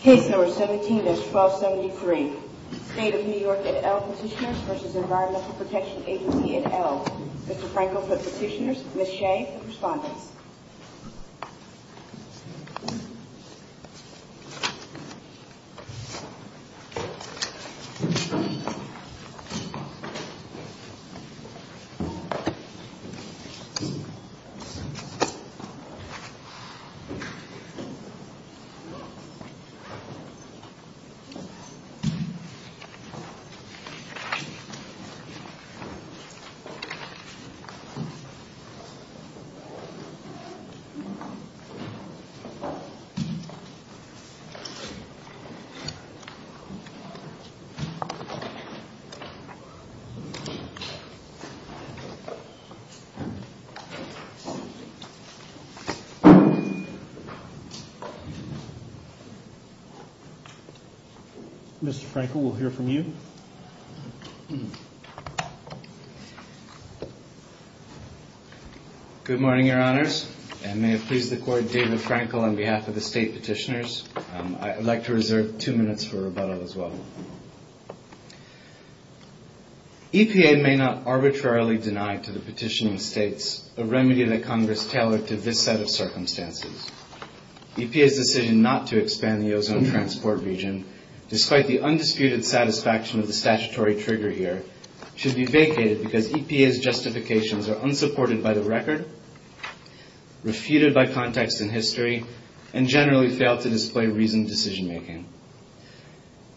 Case No. 17-1273. State of New York et al. Petitioners v. Environmental Protection Agency et al. Mr. Frankel for the petitioners, Ms. Shea for the respondents. Ms. Shea for the petitioners, Ms. Shea for the respondents. Mr. Frankel, we'll hear from you. Good morning, your honors. I may have pleased the court, David Frankel, on behalf of the state petitioners. I'd like to reserve two minutes for rebuttal as well. EPA may not arbitrarily deny to the petitioning states a remedy that Congress tailored to this set of circumstances. EPA's decision not to expand the ozone transport region, despite the undisputed satisfaction of the statutory trigger here, should be vacated because EPA's justifications are unsupported by the record, refuted by context and history, and generally fail to display reasoned decision-making.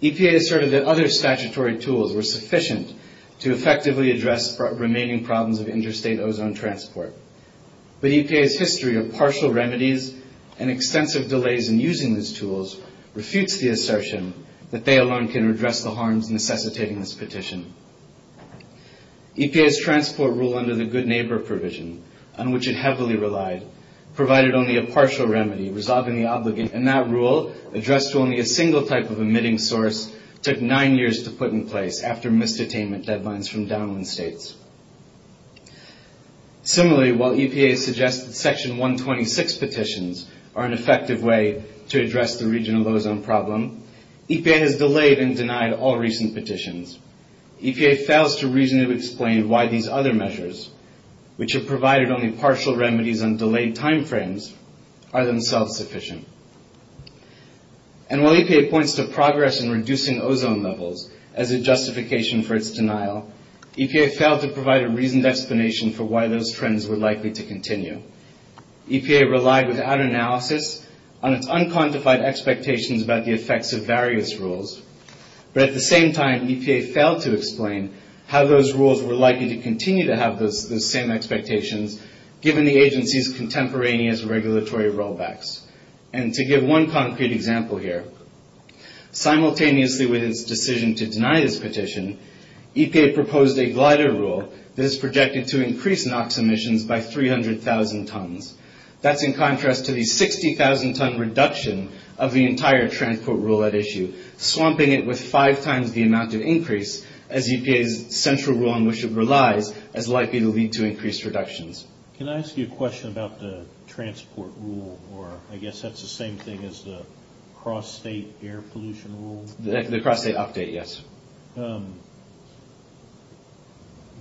EPA asserted that other statutory tools were sufficient to effectively address remaining problems of interstate ozone transport, but EPA's history of partial remedies and extensive delays in using these tools refutes the assertion that they alone can redress the harms necessitating this petition. EPA's transport rule under the Good Neighbor provision, on which it heavily relied, provided only a partial remedy, resolving the obligations of the region. And that rule, addressed to only a single type of emitting source, took nine years to put in place after misdetainment deadlines from downwind states. Similarly, while EPA suggests that Section 126 petitions are an effective way to address the regional ozone problem, EPA has delayed and denied all recent petitions. EPA fails to reasonably explain why these other measures, which have provided only partial remedies on delayed timeframes, are themselves sufficient. And while EPA points to progress in reducing ozone levels as a justification for its denial, EPA failed to provide a reasoned explanation for why those trends were likely to continue. EPA relied without analysis on its unquantified expectations about the effects of various rules, but at the same time, EPA failed to explain how those rules were likely to continue to have those same expectations, given the agency's contemporaneous regulatory rollbacks. And to give one concrete example here, simultaneously with its decision to deny this petition, EPA proposed a glider rule that is projected to increase NOx emissions by 300,000 tons. That's in contrast to the 60,000 ton reduction of the entire transport rule at issue, swamping it with five times the amount of increase, as EPA's central rule on which it relies is likely to lead to increased reductions. Can I ask you a question about the transport rule? Or I guess that's the same thing as the cross-state air pollution rule? The cross-state update, yes.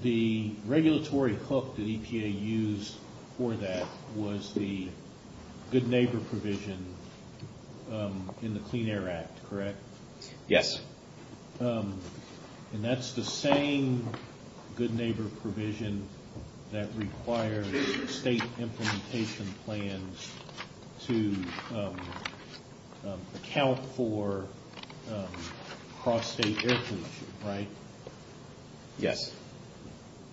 The regulatory hook that EPA used for that was the good neighbor provision in the Clean Air Act, correct? Yes. And that's the same good neighbor provision that requires state implementation plans to account for cross-state air pollution, right? Yes.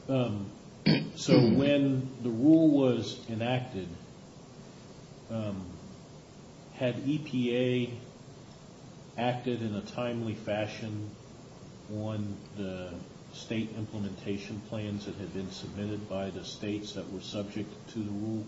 So when the rule was enacted, had EPA acted in a timely fashion on the state implementation plans that had been submitted by the states that were subject to the rule?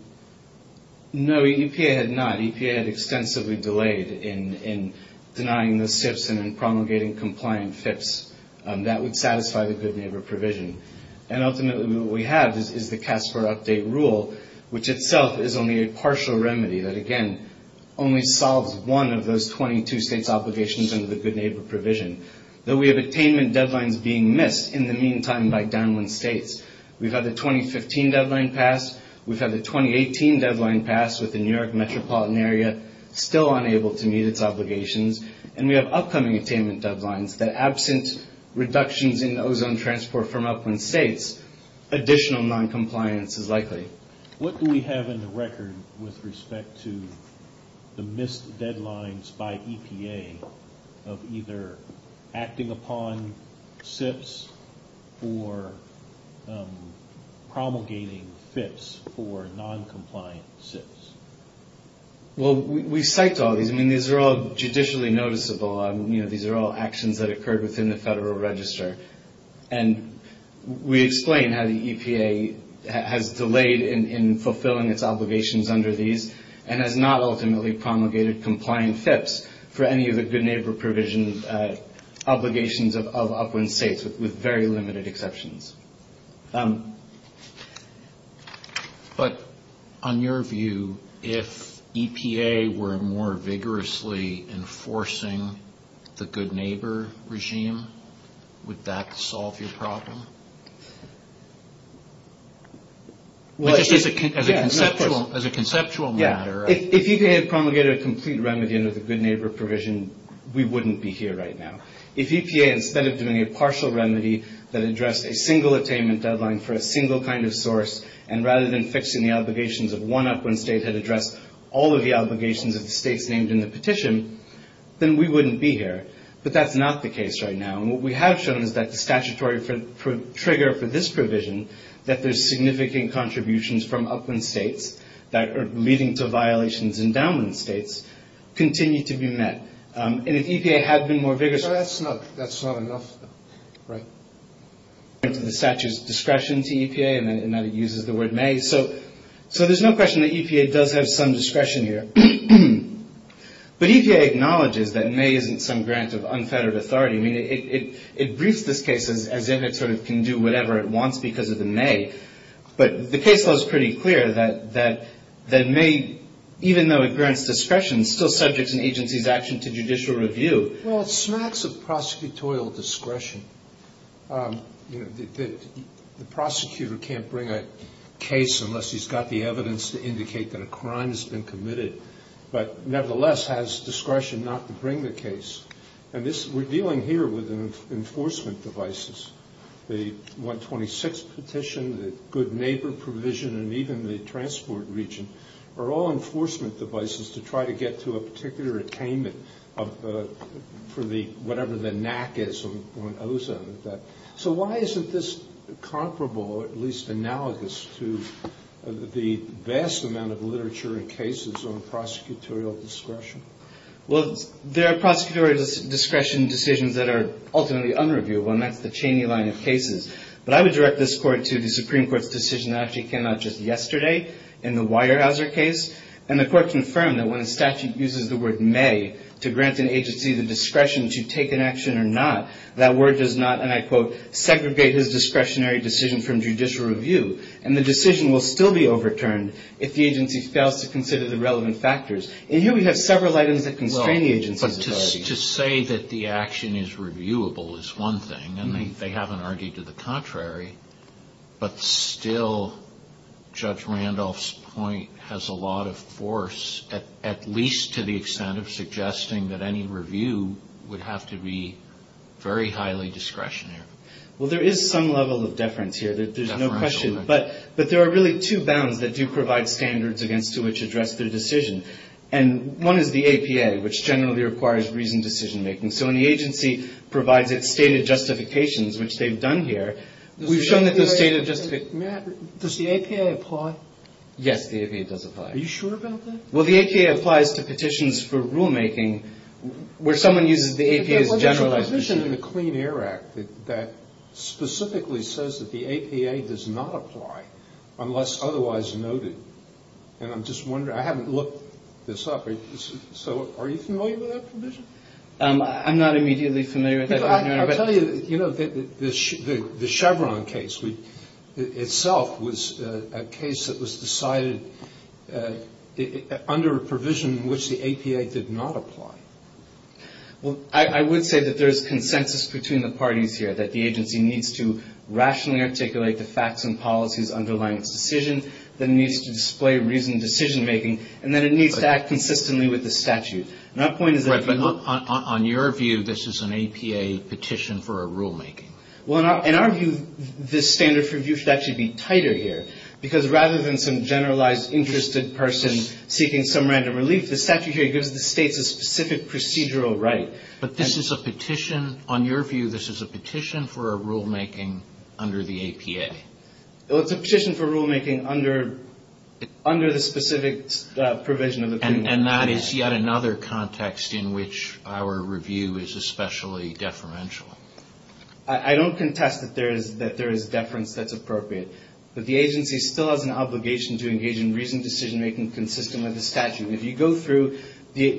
No, EPA had not. EPA had extensively delayed in denying the SIPs and in promulgating compliant SIPs. That would satisfy the good neighbor provision. And ultimately what we have is the CASPER update rule, which itself is only a partial remedy that, again, only solves one of those 22 states' obligations under the good neighbor provision. Though we have attainment deadlines being missed in the meantime by downwind states. We've had the 2015 deadline passed. We've had the 2018 deadline passed with the New York metropolitan area still unable to meet its obligations. And we have upcoming attainment deadlines that absent reductions in ozone transport from upwind states, additional noncompliance is likely. What do we have in the record with respect to the missed deadlines by EPA of either acting upon SIPs or promulgating FIPs for noncompliant SIPs? Well, we cite all these. I mean, these are all judicially noticeable. These are all actions that occurred within the Federal Register. And we explain how the EPA has delayed in fulfilling its obligations under these and has not ultimately promulgated compliant FIPs for any of the good neighbor provision obligations of upwind states with very limited exceptions. But on your view, if EPA were more vigorously enforcing the good neighbor regime, would that solve your problem? As a conceptual matter. Yeah. If EPA had promulgated a complete remedy under the good neighbor provision, we wouldn't be here right now. If EPA, instead of doing a partial remedy that addressed a single attainment deadline for a single kind of source, and rather than fixing the obligations of one upwind state had addressed all of the obligations of the states named in the petition, then we wouldn't be here. But that's not the case right now. And what we have shown is that the statutory trigger for this provision, that there's significant contributions from upwind states that are leading to violations in downwind states, continue to be met. And if EPA had been more vigorous. So that's not enough, right? The statute's discretion to EPA and that it uses the word may. So there's no question that EPA does have some discretion here. But EPA acknowledges that may isn't some grant of unfettered authority. I mean, it briefs this case as if it sort of can do whatever it wants because of the may. But the case law is pretty clear that may, even though it grants discretion, is still subject in agency's action to judicial review. Well, it smacks of prosecutorial discretion. The prosecutor can't bring a case unless he's got the evidence to indicate that a crime has been committed, but nevertheless has discretion not to bring the case. And we're dealing here with enforcement devices. The 126 petition, the good neighbor provision, and even the transport region are all enforcement devices to try to get to a particular attainment for whatever the NAC is. So why isn't this comparable, at least analogous, to the vast amount of literature in cases on prosecutorial discretion? Well, there are prosecutorial discretion decisions that are ultimately unreviewable, and that's the Cheney line of cases. But I would direct this Court to the Supreme Court's decision that actually came out just yesterday in the Weyerhaeuser case. And the Court confirmed that when a statute uses the word may to grant an agency the discretion to take an action or not, that word does not, and I quote, segregate his discretionary decision from judicial review. And the decision will still be overturned if the agency fails to consider the relevant factors. And here we have several items that constrain the agency's authority. But to say that the action is reviewable is one thing, and they haven't argued to the contrary, but still Judge Randolph's point has a lot of force, at least to the extent of suggesting that any review would have to be very highly discretionary. Well, there is some level of deference here. There's no question. But there are really two bounds that do provide standards against which to address the decision. And one is the APA, which generally requires reasoned decision-making. So when the agency provides its stated justifications, which they've done here, we've shown that those stated justifications ---- Matt, does the APA apply? Yes, the APA does apply. Are you sure about that? Well, the APA applies to petitions for rulemaking where someone uses the APA as a generalized decision. There's a provision in the Clean Air Act that specifically says that the APA does not apply unless otherwise noted. And I'm just wondering, I haven't looked this up. So are you familiar with that provision? I'm not immediately familiar with that. I'll tell you, you know, the Chevron case itself was a case that was decided under a provision in which the APA did not apply. Well, I would say that there's consensus between the parties here, that the agency needs to rationally articulate the facts and policies underlying its decision, that it needs to display reasoned decision-making, and that it needs to act consistently with the statute. And our point is that if you look ---- Right. But on your view, this is an APA petition for a rulemaking. Well, in our view, this standard for review should actually be tighter here. Because rather than some generalized interested person seeking some random relief, the statute here gives the states a specific procedural right. But this is a petition, on your view, this is a petition for a rulemaking under the APA. Well, it's a petition for rulemaking under the specific provision of the Clean Air Act. And that is yet another context in which our review is especially deferential. I don't contest that there is deference that's appropriate. But the agency still has an obligation to engage in reasoned decision-making consistent with the statute. If you go through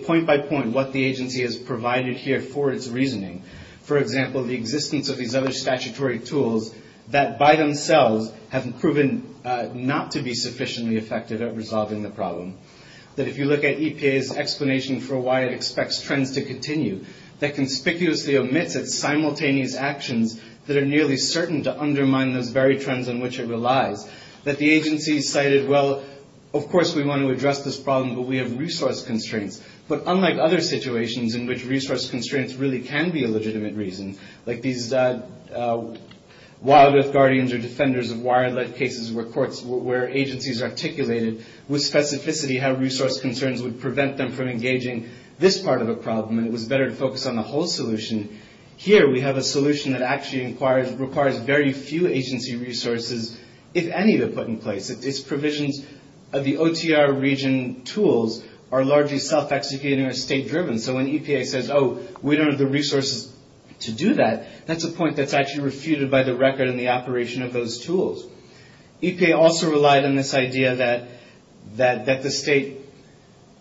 point by point what the agency has provided here for its reasoning, for example, the existence of these other statutory tools that by themselves have proven not to be sufficiently effective at resolving the problem. That if you look at EPA's explanation for why it expects trends to continue, that conspicuously omits its simultaneous actions that are nearly certain to undermine those very trends on which it relies. That the agency cited, well, of course we want to address this problem, but we have resource constraints. But unlike other situations in which resource constraints really can be a legitimate reason, like these wildlife guardians or defenders of wildlife cases where agencies articulated with specificity how resource concerns would prevent them from engaging this part of a problem, and it was better to focus on the whole solution. Here we have a solution that actually requires very few agency resources, if any, to put in place. Its provisions of the OTR region tools are largely self-executing or state-driven. So when EPA says, oh, we don't have the resources to do that, that's a point that's actually refuted by the record and the operation of those tools. EPA also relied on this idea that the state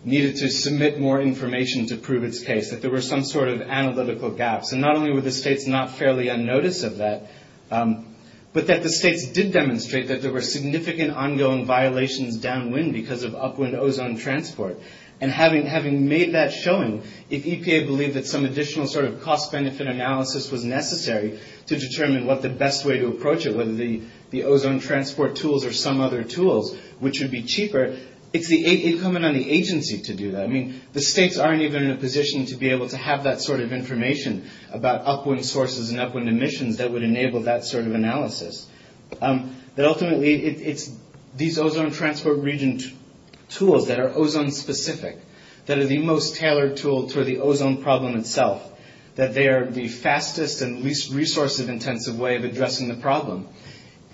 needed to submit more information to prove its case, that there were some sort of analytical gaps. And not only were the states not fairly unnoticed of that, but that the states did demonstrate that there were significant ongoing violations downwind because of upwind ozone transport. And having made that showing, if EPA believed that some additional sort of cost-benefit analysis was necessary to determine what the best way to approach it, whether the ozone transport tools or some other tools, which would be cheaper, it's incumbent on the agency to do that. I mean, the states aren't even in a position to be able to have that sort of information about upwind sources and upwind emissions that would enable that sort of analysis. But ultimately, it's these ozone transport region tools that are ozone-specific, that are the most tailored tool to the ozone problem itself, that they are the fastest and least resource-intensive way of addressing the problem.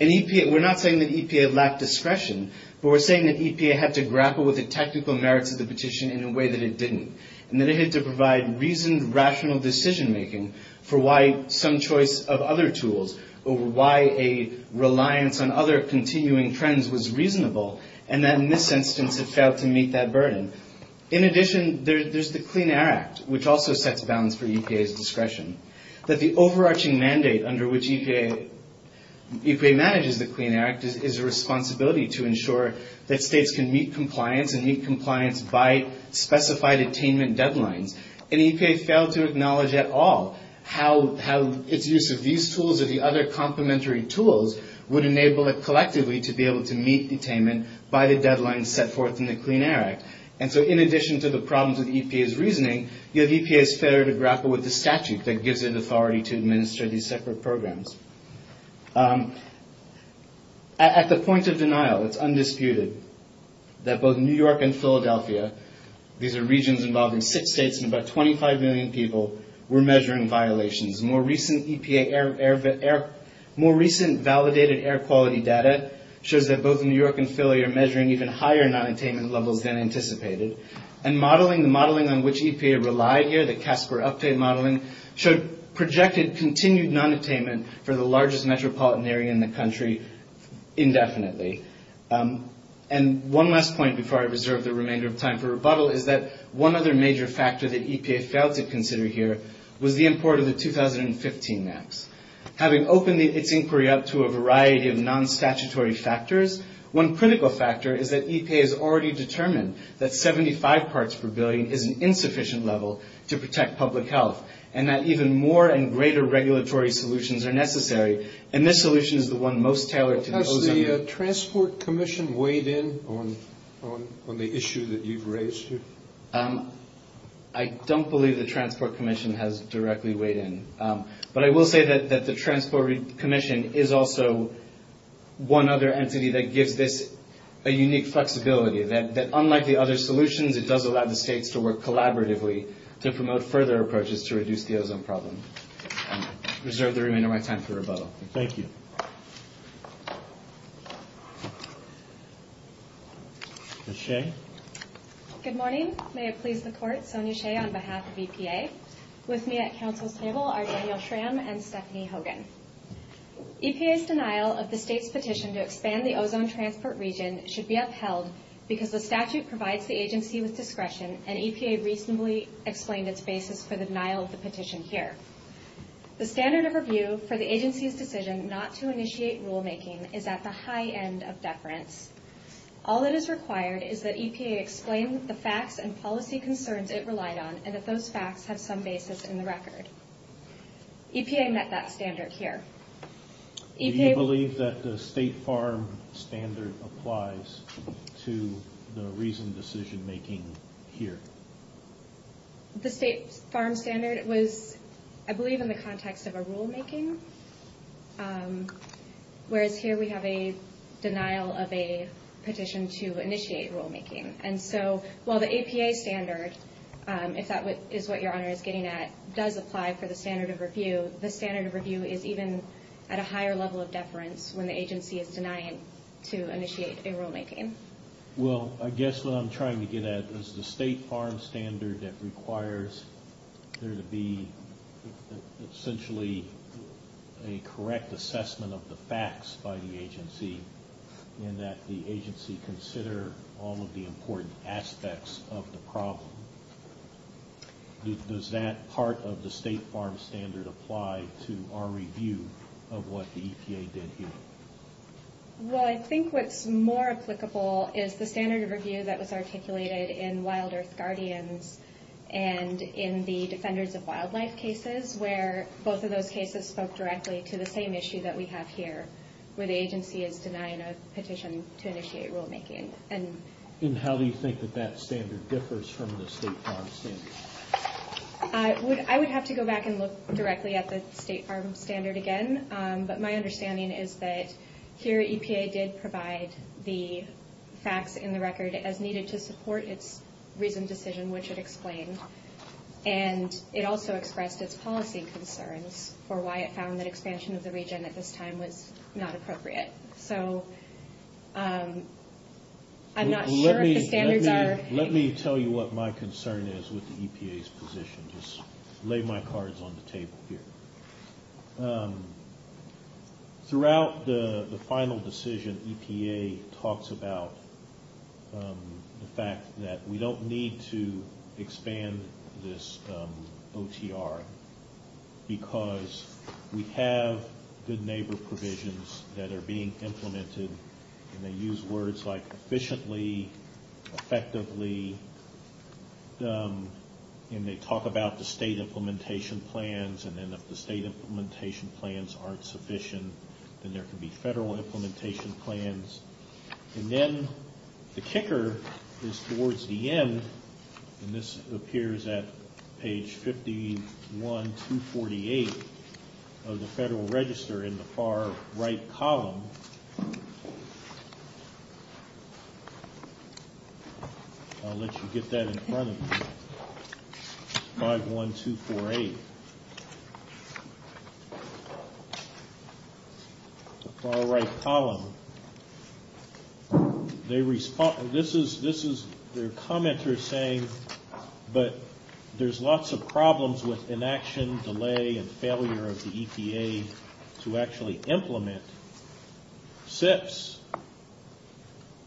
And EPA, we're not saying that EPA lacked discretion, but we're saying that EPA had to grapple with the technical merits of the petition in a way that it didn't, and that it had to provide reasoned, rational decision-making for why some choice of other tools over why a decision-making tool would work. That the reliance on other continuing trends was reasonable, and that in this instance, it failed to meet that burden. In addition, there's the Clean Air Act, which also sets bounds for EPA's discretion. That the overarching mandate under which EPA manages the Clean Air Act is a responsibility to ensure that states can meet compliance and meet compliance by specified attainment deadlines. And EPA failed to acknowledge at all how its use of these tools or the other complementary tools would enable it collectively to be able to meet attainment by the deadlines set forth in the Clean Air Act. And so, in addition to the problems with EPA's reasoning, you have EPA's failure to grapple with the statute that gives it authority to administer these separate programs. At the point of denial, it's undisputed that both New York and Philadelphia, these are regions involving six states and seven states, and about 25 million people were measuring violations. More recent validated air quality data shows that both New York and Philadelphia are measuring even higher nonattainment levels than anticipated. And the modeling on which EPA relied here, the CASPER update modeling, showed projected continued nonattainment for the largest metropolitan area in the country indefinitely. And one last point before I reserve the remainder of time for rebuttal is that one other major factor that EPA failed to consider here was the import of the 2015 maps. Having opened its inquiry up to a variety of nonstatutory factors, one critical factor is that EPA has already determined that 75 parts per billion is an insufficient level to protect public health. And that even more and greater regulatory solutions are necessary. And this solution is the one most tailored to the ozone problem. I don't believe the Transport Commission has directly weighed in. But I will say that the Transport Commission is also one other entity that gives this a unique flexibility, that unlike the other solutions, it does allow the states to work collaboratively to promote further approaches to reduce the ozone problem. And with that, I reserve the remainder of my time for rebuttal. Ms. Shea? Good morning. May it please the Court, Sonya Shea on behalf of EPA. With me at Council's table are Daniel Schramm and Stephanie Hogan. EPA's denial of the state's petition to expand the ozone transport region should be upheld because the statute provides the agency with discretion, and EPA reasonably explained its basis for the denial of the petition here. The standard of review for the agency's decision not to initiate rulemaking is at the high end of deference. All that is required is that EPA explain the facts and policy concerns it relied on, and that those facts have some basis in the record. EPA met that standard here. Do you believe that the State Farm Standard applies to the reasoned decision-making here? The State Farm Standard was, I believe, in the context of a rulemaking, whereas here we have a denial of a petition to initiate rulemaking. And so while the EPA standard, if that is what Your Honor is getting at, does apply for the standard of review, the standard of review is even at a higher level of deference when the agency is denying to initiate a rulemaking. Well, I guess what I'm trying to get at is the State Farm Standard that requires there to be essentially a correct assessment of the facts by the agency, and that the agency consider all of the important aspects of the problem. Does that part of the State Farm Standard apply to our review of what the EPA did here? Well, I think what's more applicable is the standard of review that was articulated in Wild Earth Guardians and in the Defenders of Wildlife cases, where both of those cases spoke directly to the same issue that we have here, where the agency is denying a petition to initiate rulemaking. And how do you think that that standard differs from the State Farm Standard? I would have to go back and look directly at the State Farm Standard again, but my understanding is that here EPA did provide the facts in the record as needed to support its recent decision, which it explained, and it also expressed its policy concerns for why it found that expansion of the region at this time was not appropriate. So I'm not sure if the standards are... Let me tell you what my concern is with the EPA's position. Just lay my cards on the table here. Throughout the final decision, EPA talks about the fact that we don't need to expand this OTR, because we have good neighbor provisions that are being implemented. And they use words like efficiently, effectively, and they talk about the state implementation plans, and then if the state implementation plans aren't sufficient, then there can be federal implementation plans. And then the kicker is towards the end, and this appears at page 51-248 of the Federal Register in the far right column. I'll let you get that in front of you. 51248. The far right column. This is their commenter saying, but there's lots of problems with inaction, delay, and failure of the EPA to actually implement SIPs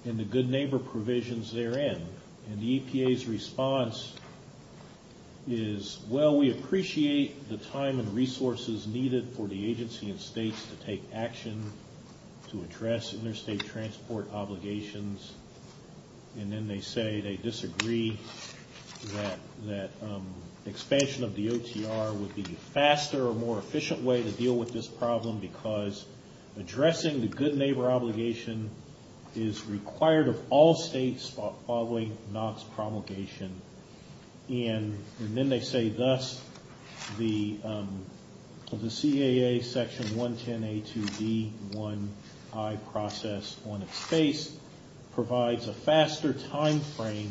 and the good neighbor provisions therein. And the EPA's response is, well, we appreciate the time and resources needed for the agency and states to take action to address interstate transport obligations. And then they say they disagree that expansion of the OTR would be the faster or more efficient way to deal with this problem, because addressing the good neighbor obligation is required of all states following NOx promulgation. And then they say thus, the CAA Section 110A2B1I process on its face provides a faster timeframe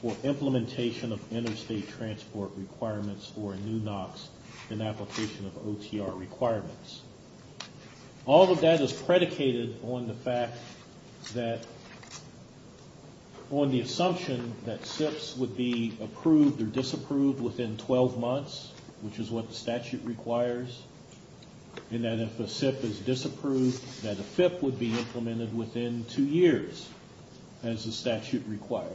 for implementation of interstate transport requirements for a new NOx than application of OTR requirements. All of that is predicated on the fact that, on the assumption that SIPs would be approved or disapproved within 12 months, which is what the statute requires, and that if a SIP is disapproved, that a FIP would be implemented within two years, as the statute requires.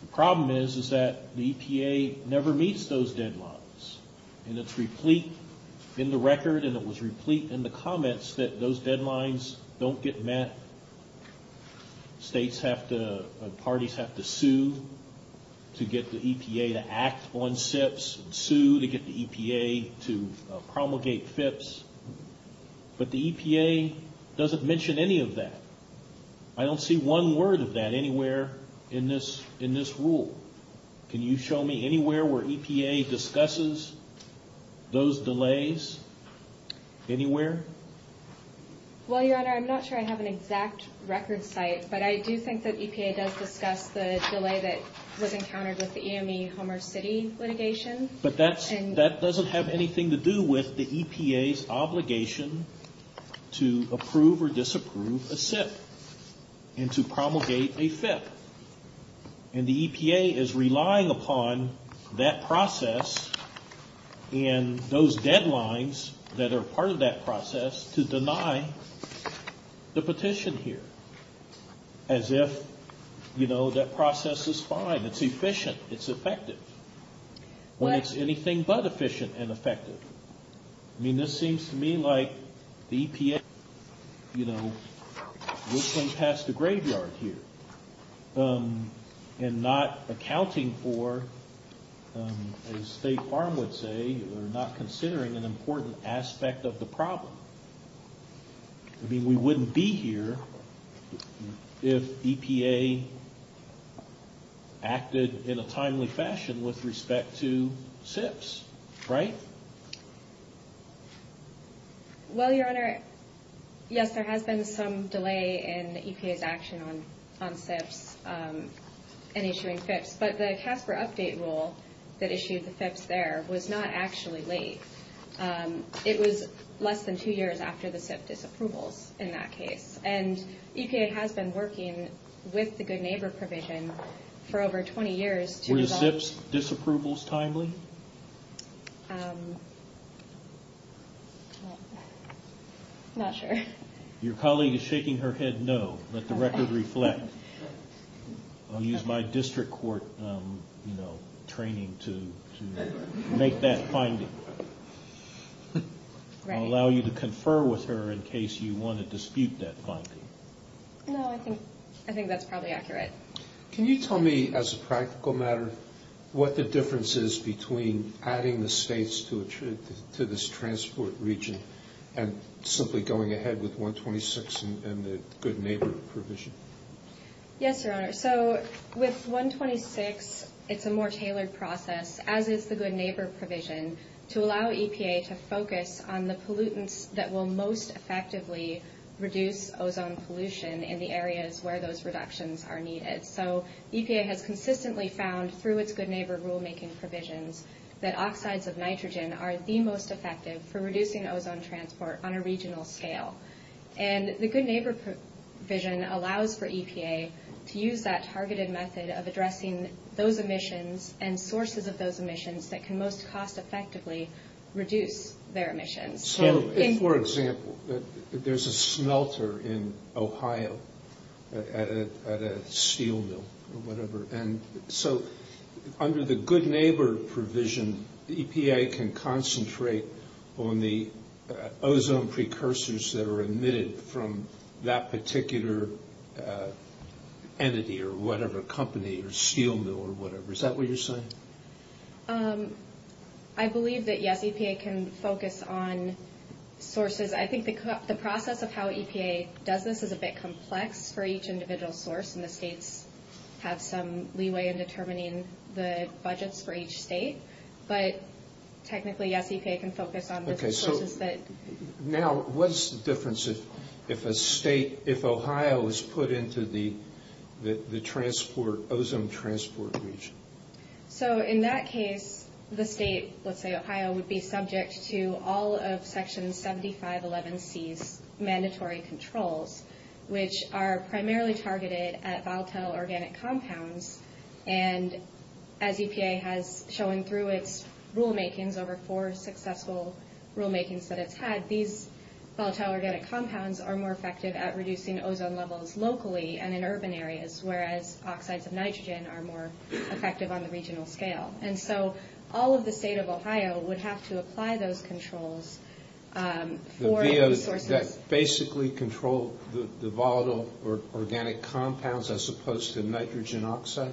The problem is that the EPA never meets those deadlines. And it's replete in the record, and it was replete in the comments, that those deadlines don't get met. States have to, parties have to sue to get the EPA to act on SIPs, sue to get the EPA to promulgate FIPs. But the EPA doesn't mention any of that. I don't see one word of that anywhere in this rule. Can you show me anywhere where EPA discusses those delays? Anywhere? Well, Your Honor, I'm not sure I have an exact record site, but I do think that EPA does discuss the delay that was encountered with the EME Homer City litigation. But that doesn't have anything to do with the EPA's obligation to approve or disapprove a SIP and to promulgate a FIP. And the EPA is relying upon that process and those deadlines that are part of that process to deny the petition here. As if, you know, that process is fine, it's efficient, it's effective. When it's anything but efficient and effective. I mean, this seems to me like the EPA, you know, we're going past the graveyard here. And not accounting for, as State Farm would say, we're not considering an important aspect of the problem. I mean, we wouldn't be here if EPA acted in a timely fashion with respect to SIPs, right? Well, Your Honor, yes, there has been some delay in EPA's action on SIPs and issuing FIPs. But the CASPER update rule that issued the FIPs there was not actually late. It was less than two years after the SIP disapprovals in that case. And EPA has been working with the Good Neighbor provision for over 20 years. Were the SIPs disapprovals timely? Not sure. Your colleague is shaking her head no. Let the record reflect. I'll use my district court training to make that finding. I'll allow you to confer with her in case you want to dispute that finding. No, I think that's probably accurate. Can you tell me, as a practical matter, what the difference is between adding the states to this transport region and simply going ahead with 126 and the Good Neighbor provision? Yes, Your Honor. So with 126, it's a more tailored process, as is the Good Neighbor provision, to allow EPA to focus on the pollutants that will most effectively reduce ozone pollution in the areas where those reductions are needed. So EPA has consistently found, through its Good Neighbor rulemaking provisions, that oxides of nitrogen are the most effective for reducing ozone transport on a regional scale. And the Good Neighbor provision allows for EPA to use that targeted method of addressing those emissions and sources of those emissions that can most cost-effectively reduce their emissions. So, for example, there's a smelter in Ohio at a steel mill or whatever, and so under the Good Neighbor provision, EPA can concentrate on the ozone precursors that are emitted from that particular entity or whatever company or steel mill or whatever. Is that what you're saying? I believe that, yes, EPA can focus on sources. I think the process of how EPA does this is a bit complex for each individual source, and the states have some leeway in determining the budgets for each state. But technically, yes, EPA can focus on the sources that... So in that case, the state, let's say Ohio, would be subject to all of Section 7511C's mandatory controls, which are primarily targeted at volatile organic compounds. And as EPA has shown through its rulemakings, over four successful rulemakings that it's had, these volatile organic compounds are more effective at reducing ozone levels locally and in urban areas, whereas oxides of nitrogen are more effective on the regional scale. And so all of the state of Ohio would have to apply those controls for... The VOs that basically control the volatile organic compounds as opposed to nitrogen oxide?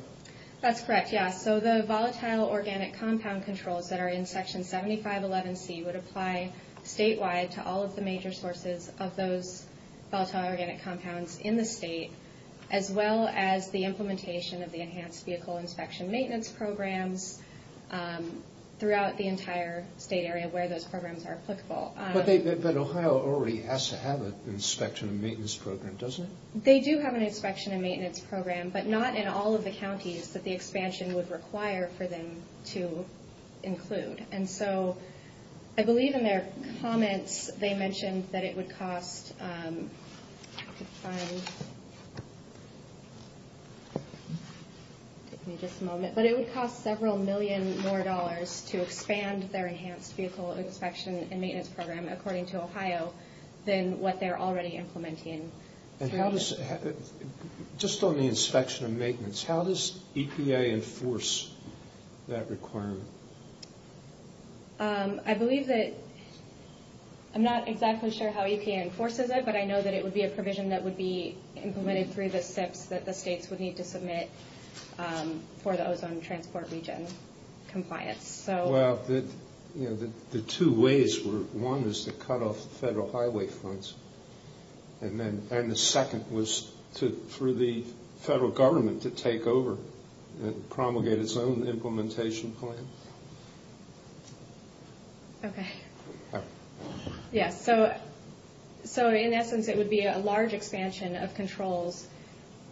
That's correct, yes. So the volatile organic compound controls that are in Section 7511C would apply statewide to all of the major sources of those volatile organic compounds in the state, as well as the implementation of the Enhanced Vehicle Inspection Maintenance Programs throughout the entire state area where those programs are applicable. But Ohio already has to have an inspection and maintenance program, doesn't it? They do have an inspection and maintenance program, but not in all of the counties that the expansion would require for them to include. And so I believe in their comments they mentioned that it would cost... Give me just a moment. But it would cost several million more dollars to expand their Enhanced Vehicle Inspection and Maintenance Program, according to Ohio, than what they're already implementing. Just on the inspection and maintenance, how does EPA enforce that requirement? I believe that... I'm not exactly sure how EPA enforces it, but I know that it would be a provision that would be implemented through the SIPs that the states would need to submit for the ozone transport region compliance. Well, the two ways were, one is to cut off federal highway funds, and the second was for the federal government to take over and promulgate its own implementation plan. Okay. Yeah, so in essence it would be a large expansion of controls,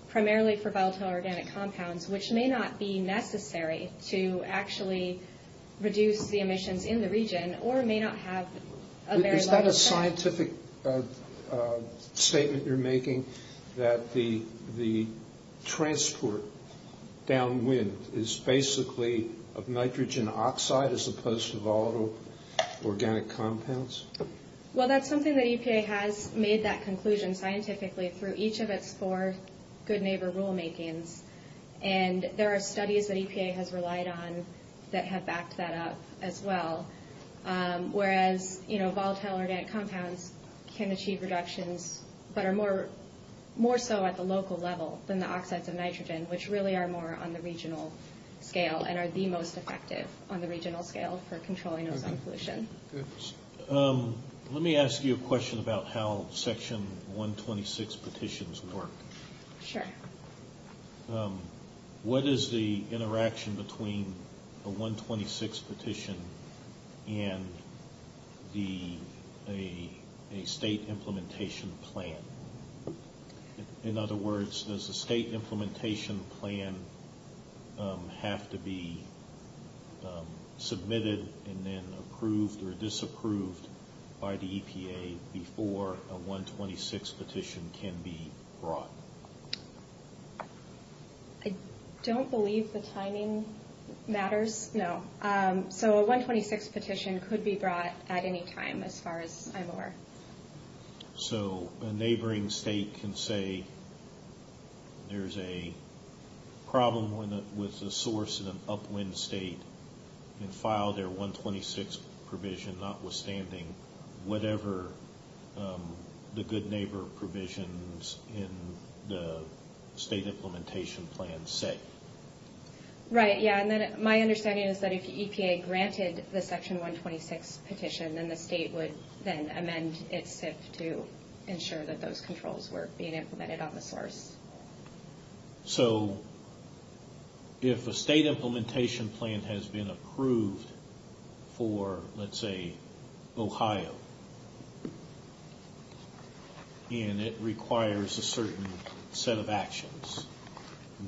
primarily for volatile organic compounds, which may not be necessary to actually reduce the emissions in the region or may not have a very large... Is that a scientific statement you're making, that the transport downwind is basically of nitrogen oxide as opposed to volatile organic compounds? Well, that's something that EPA has made that conclusion scientifically through each of its four good neighbor rulemakings. And there are studies that EPA has relied on that have backed that up as well, whereas volatile organic compounds can achieve reductions, but are more so at the local level than the oxides of nitrogen, which really are more on the regional scale and are the most effective on the regional scale for controlling ozone pollution. Let me ask you a question about how Section 126 petitions work. Sure. What is the interaction between a 126 petition and a state implementation plan? In other words, does the state implementation plan have to be submitted and then approved or disapproved by the EPA before a 126 petition can be brought? I don't believe the timing matters, no. So a 126 petition could be brought at any time, as far as I'm aware. So a neighboring state can say there's a problem with a source in an upwind state and file their 126 provision notwithstanding whatever the good neighbor provisions in the state implementation plan say. Right, yeah. And then my understanding is that if the EPA granted the Section 126 petition, then the state would then amend its SIF to ensure that those controls were being implemented on the source. So if a state implementation plan has been approved for, let's say, Ohio, and it requires a certain set of actions,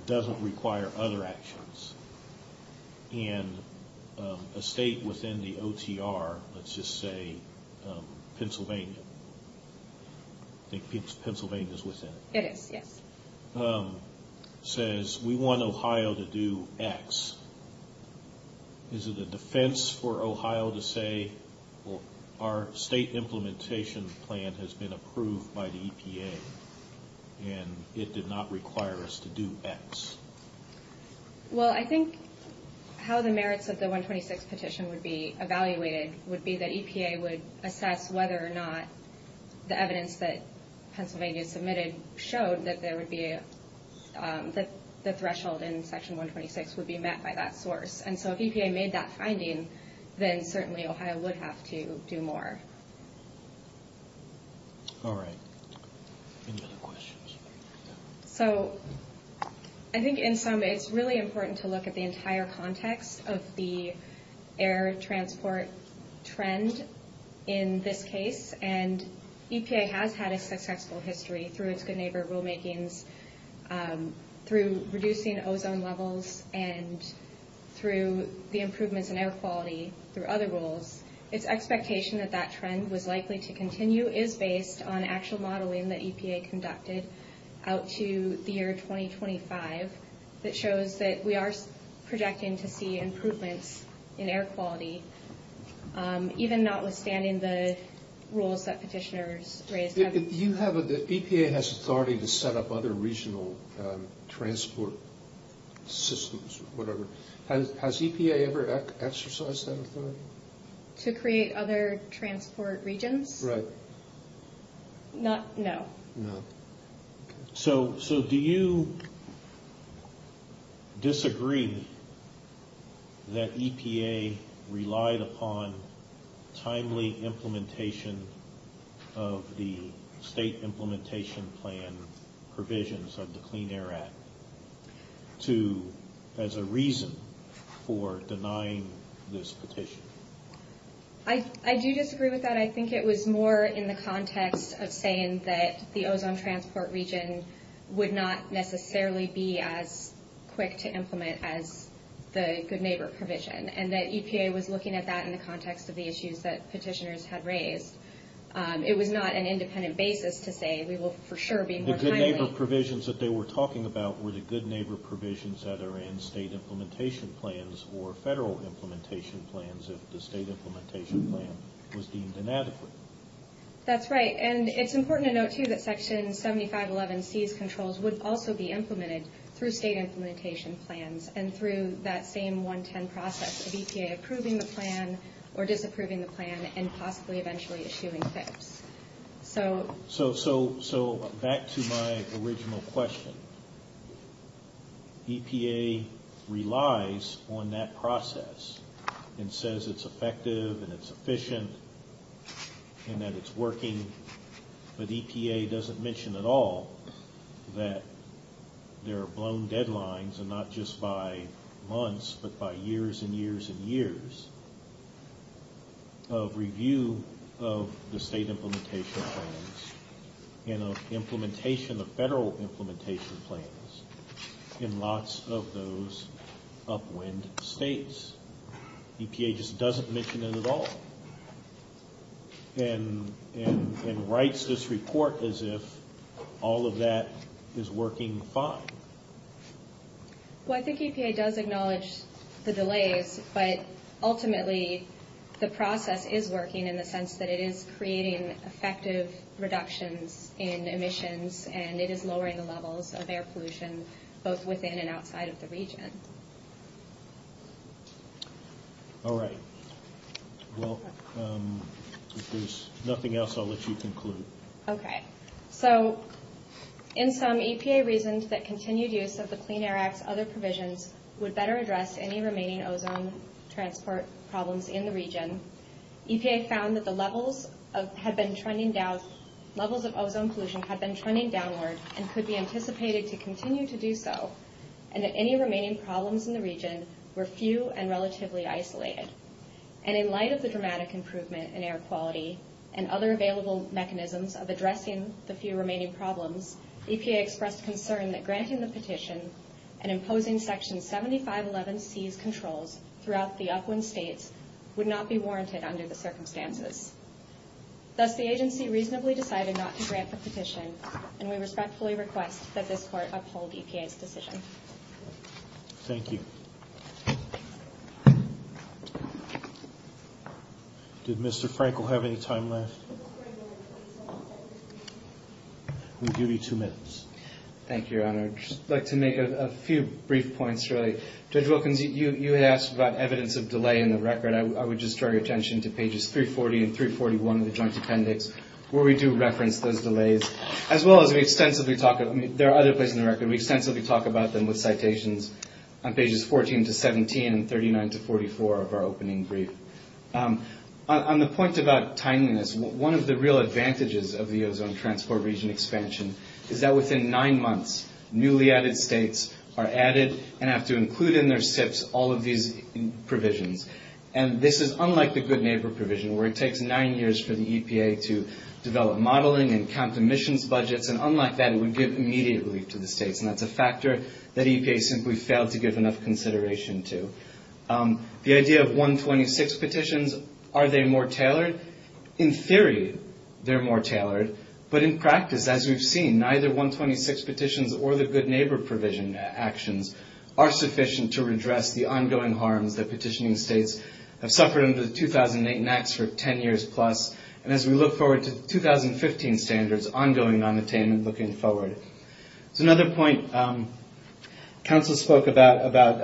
doesn't require other actions, and a state within the OTR, let's just say Pennsylvania, I think Pennsylvania's within it. It is, yes. Says, we want Ohio to do X. Is it a defense for Ohio to say, well, our state implementation plan has been approved by the EPA and it did not require us to do X? Well, I think how the merits of the 126 petition would be evaluated would be that EPA would assess whether or not the evidence that Pennsylvania submitted showed that the threshold in Section 126 would be met by that source. And so if EPA made that finding, then certainly Ohio would have to do more. All right. Any other questions? So I think in sum, it's really important to look at the entire context of the air transport trend in this case. And EPA has had a successful history through its Good Neighbor rulemakings, through reducing ozone levels, and through the improvements in air quality through other rules. Its expectation that that trend was likely to continue is based on actual modeling that EPA conducted out to the year 2025 that shows that we are projecting to see improvements in air quality, even notwithstanding the rules that petitioners raised. EPA has authority to set up other regional transport systems, whatever. Has EPA ever exercised that authority? To create other transport regions? Right. No. No. So do you disagree that EPA relied upon timely implementation of the state implementation plan provisions of the Clean Air Act as a reason for denying this petition? I do disagree with that. I think it was more in the context of saying that the ozone transport region would not necessarily be as quick to implement as the Good Neighbor provision, and that EPA was looking at that in the context of the issues that petitioners had raised. It was not an independent basis to say we will for sure be more timely. The Good Neighbor provisions that they were talking about were the Good Neighbor provisions that are in state implementation plans or federal implementation plans, as if the state implementation plan was deemed inadequate. That's right. And it's important to note, too, that Section 7511C's controls would also be implemented through state implementation plans and through that same 110 process of EPA approving the plan or disapproving the plan and possibly eventually issuing FIPs. So back to my original question. EPA relies on that process and says it's effective and it's efficient and that it's working, but EPA doesn't mention at all that there are blown deadlines, and not just by months, but by years and years and years, of review of the state implementation plans and of implementation of federal implementation plans in lots of those upwind states. EPA just doesn't mention it at all and writes this report as if all of that is working fine. Well, I think EPA does acknowledge the delays, but ultimately the process is working in the sense that it is creating effective reductions in emissions and it is lowering the levels of air pollution both within and outside of the region. All right. Well, if there's nothing else, I'll let you conclude. Okay. So, in sum, EPA reasoned that continued use of the Clean Air Act's other provisions would better address any remaining ozone transport problems in the region. EPA found that the levels of ozone pollution had been trending downward and could be anticipated to continue to do so and that any remaining problems in the region were few and relatively isolated. And in light of the dramatic improvement in air quality and other available mechanisms of addressing the few remaining problems, and imposing Section 7511C's controls throughout the upwind states would not be warranted under the circumstances. Thus, the agency reasonably decided not to grant the petition and we respectfully request that this Court uphold EPA's decision. Thank you. Did Mr. Frankel have any time left? You have two minutes. Thank you, Your Honor. I'd just like to make a few brief points really. Judge Wilkins, you asked about evidence of delay in the record. I would just draw your attention to pages 340 and 341 of the Joint Appendix where we do reference those delays as well as we extensively talk about, there are other places in the record, we extensively talk about them with citations on pages 14 to 17 and 39 to 44 of our opening brief. On the point about timeliness, one of the real advantages of the ozone transport region expansion is that within nine months, newly added states are added and have to include in their SIPs all of these provisions. And this is unlike the Good Neighbor provision where it takes nine years for the EPA to develop modeling and count emissions budgets. And unlike that, it would give immediate relief to the states and that's a factor that EPA simply failed to give enough consideration to. The idea of 126 petitions, are they more tailored? In theory, they're more tailored. But in practice, as we've seen, neither 126 petitions or the Good Neighbor provision actions are sufficient to redress the ongoing harms that petitioning states have suffered under the 2008 NAAQS for 10 years plus. And as we look forward to the 2015 standards, ongoing non-attainment looking forward. So another point, Council spoke about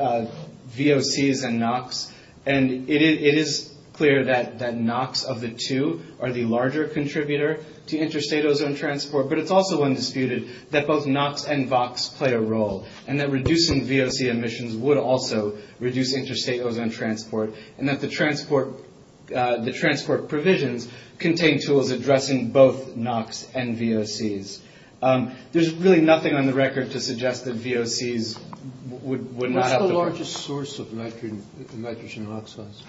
VOCs and NOx and it is clear that NOx of the two are the larger contributor to interstate ozone transport, but it's also undisputed that both NOx and VOCs play a role and that reducing VOC emissions would also reduce interstate ozone transport and that the transport provisions contain tools addressing both NOx and VOCs. There's really nothing on the record to suggest that VOCs would not... What's the largest source of nitrogen oxides?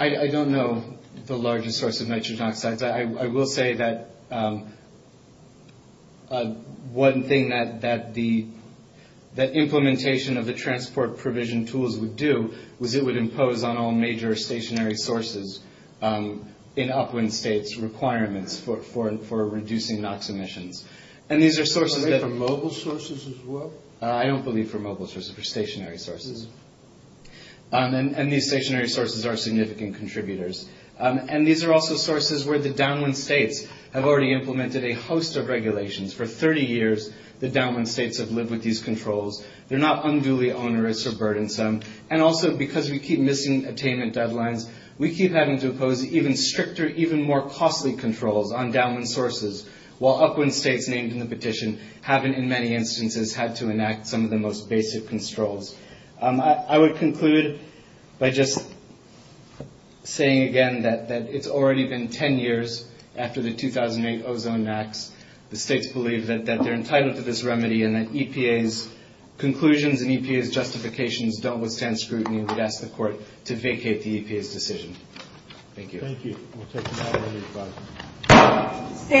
I don't know the largest source of nitrogen oxides. I will say that one thing that the implementation of the transport provision tools would do was it would impose on all major stationary sources in upwind states requirements for reducing NOx emissions. And these are sources that... Are they for mobile sources as well? I don't believe for mobile sources, for stationary sources. And these stationary sources are significant contributors. And these are also sources where the downwind states have already implemented a host of regulations. For 30 years, the downwind states have lived with these controls. They're not unduly onerous or burdensome. And also because we keep missing attainment deadlines, we keep having to impose even stricter, even more costly controls on downwind sources while upwind states named in the petition haven't in many instances had to enact some of the most basic controls. I would conclude by just saying again that it's already been 10 years after the 2008 ozone acts. The states believe that they're entitled to this remedy and that EPA's conclusions and EPA's justifications don't withstand scrutiny. I would ask the court to vacate the EPA's decision. Thank you. Thank you. We'll take another round of questions.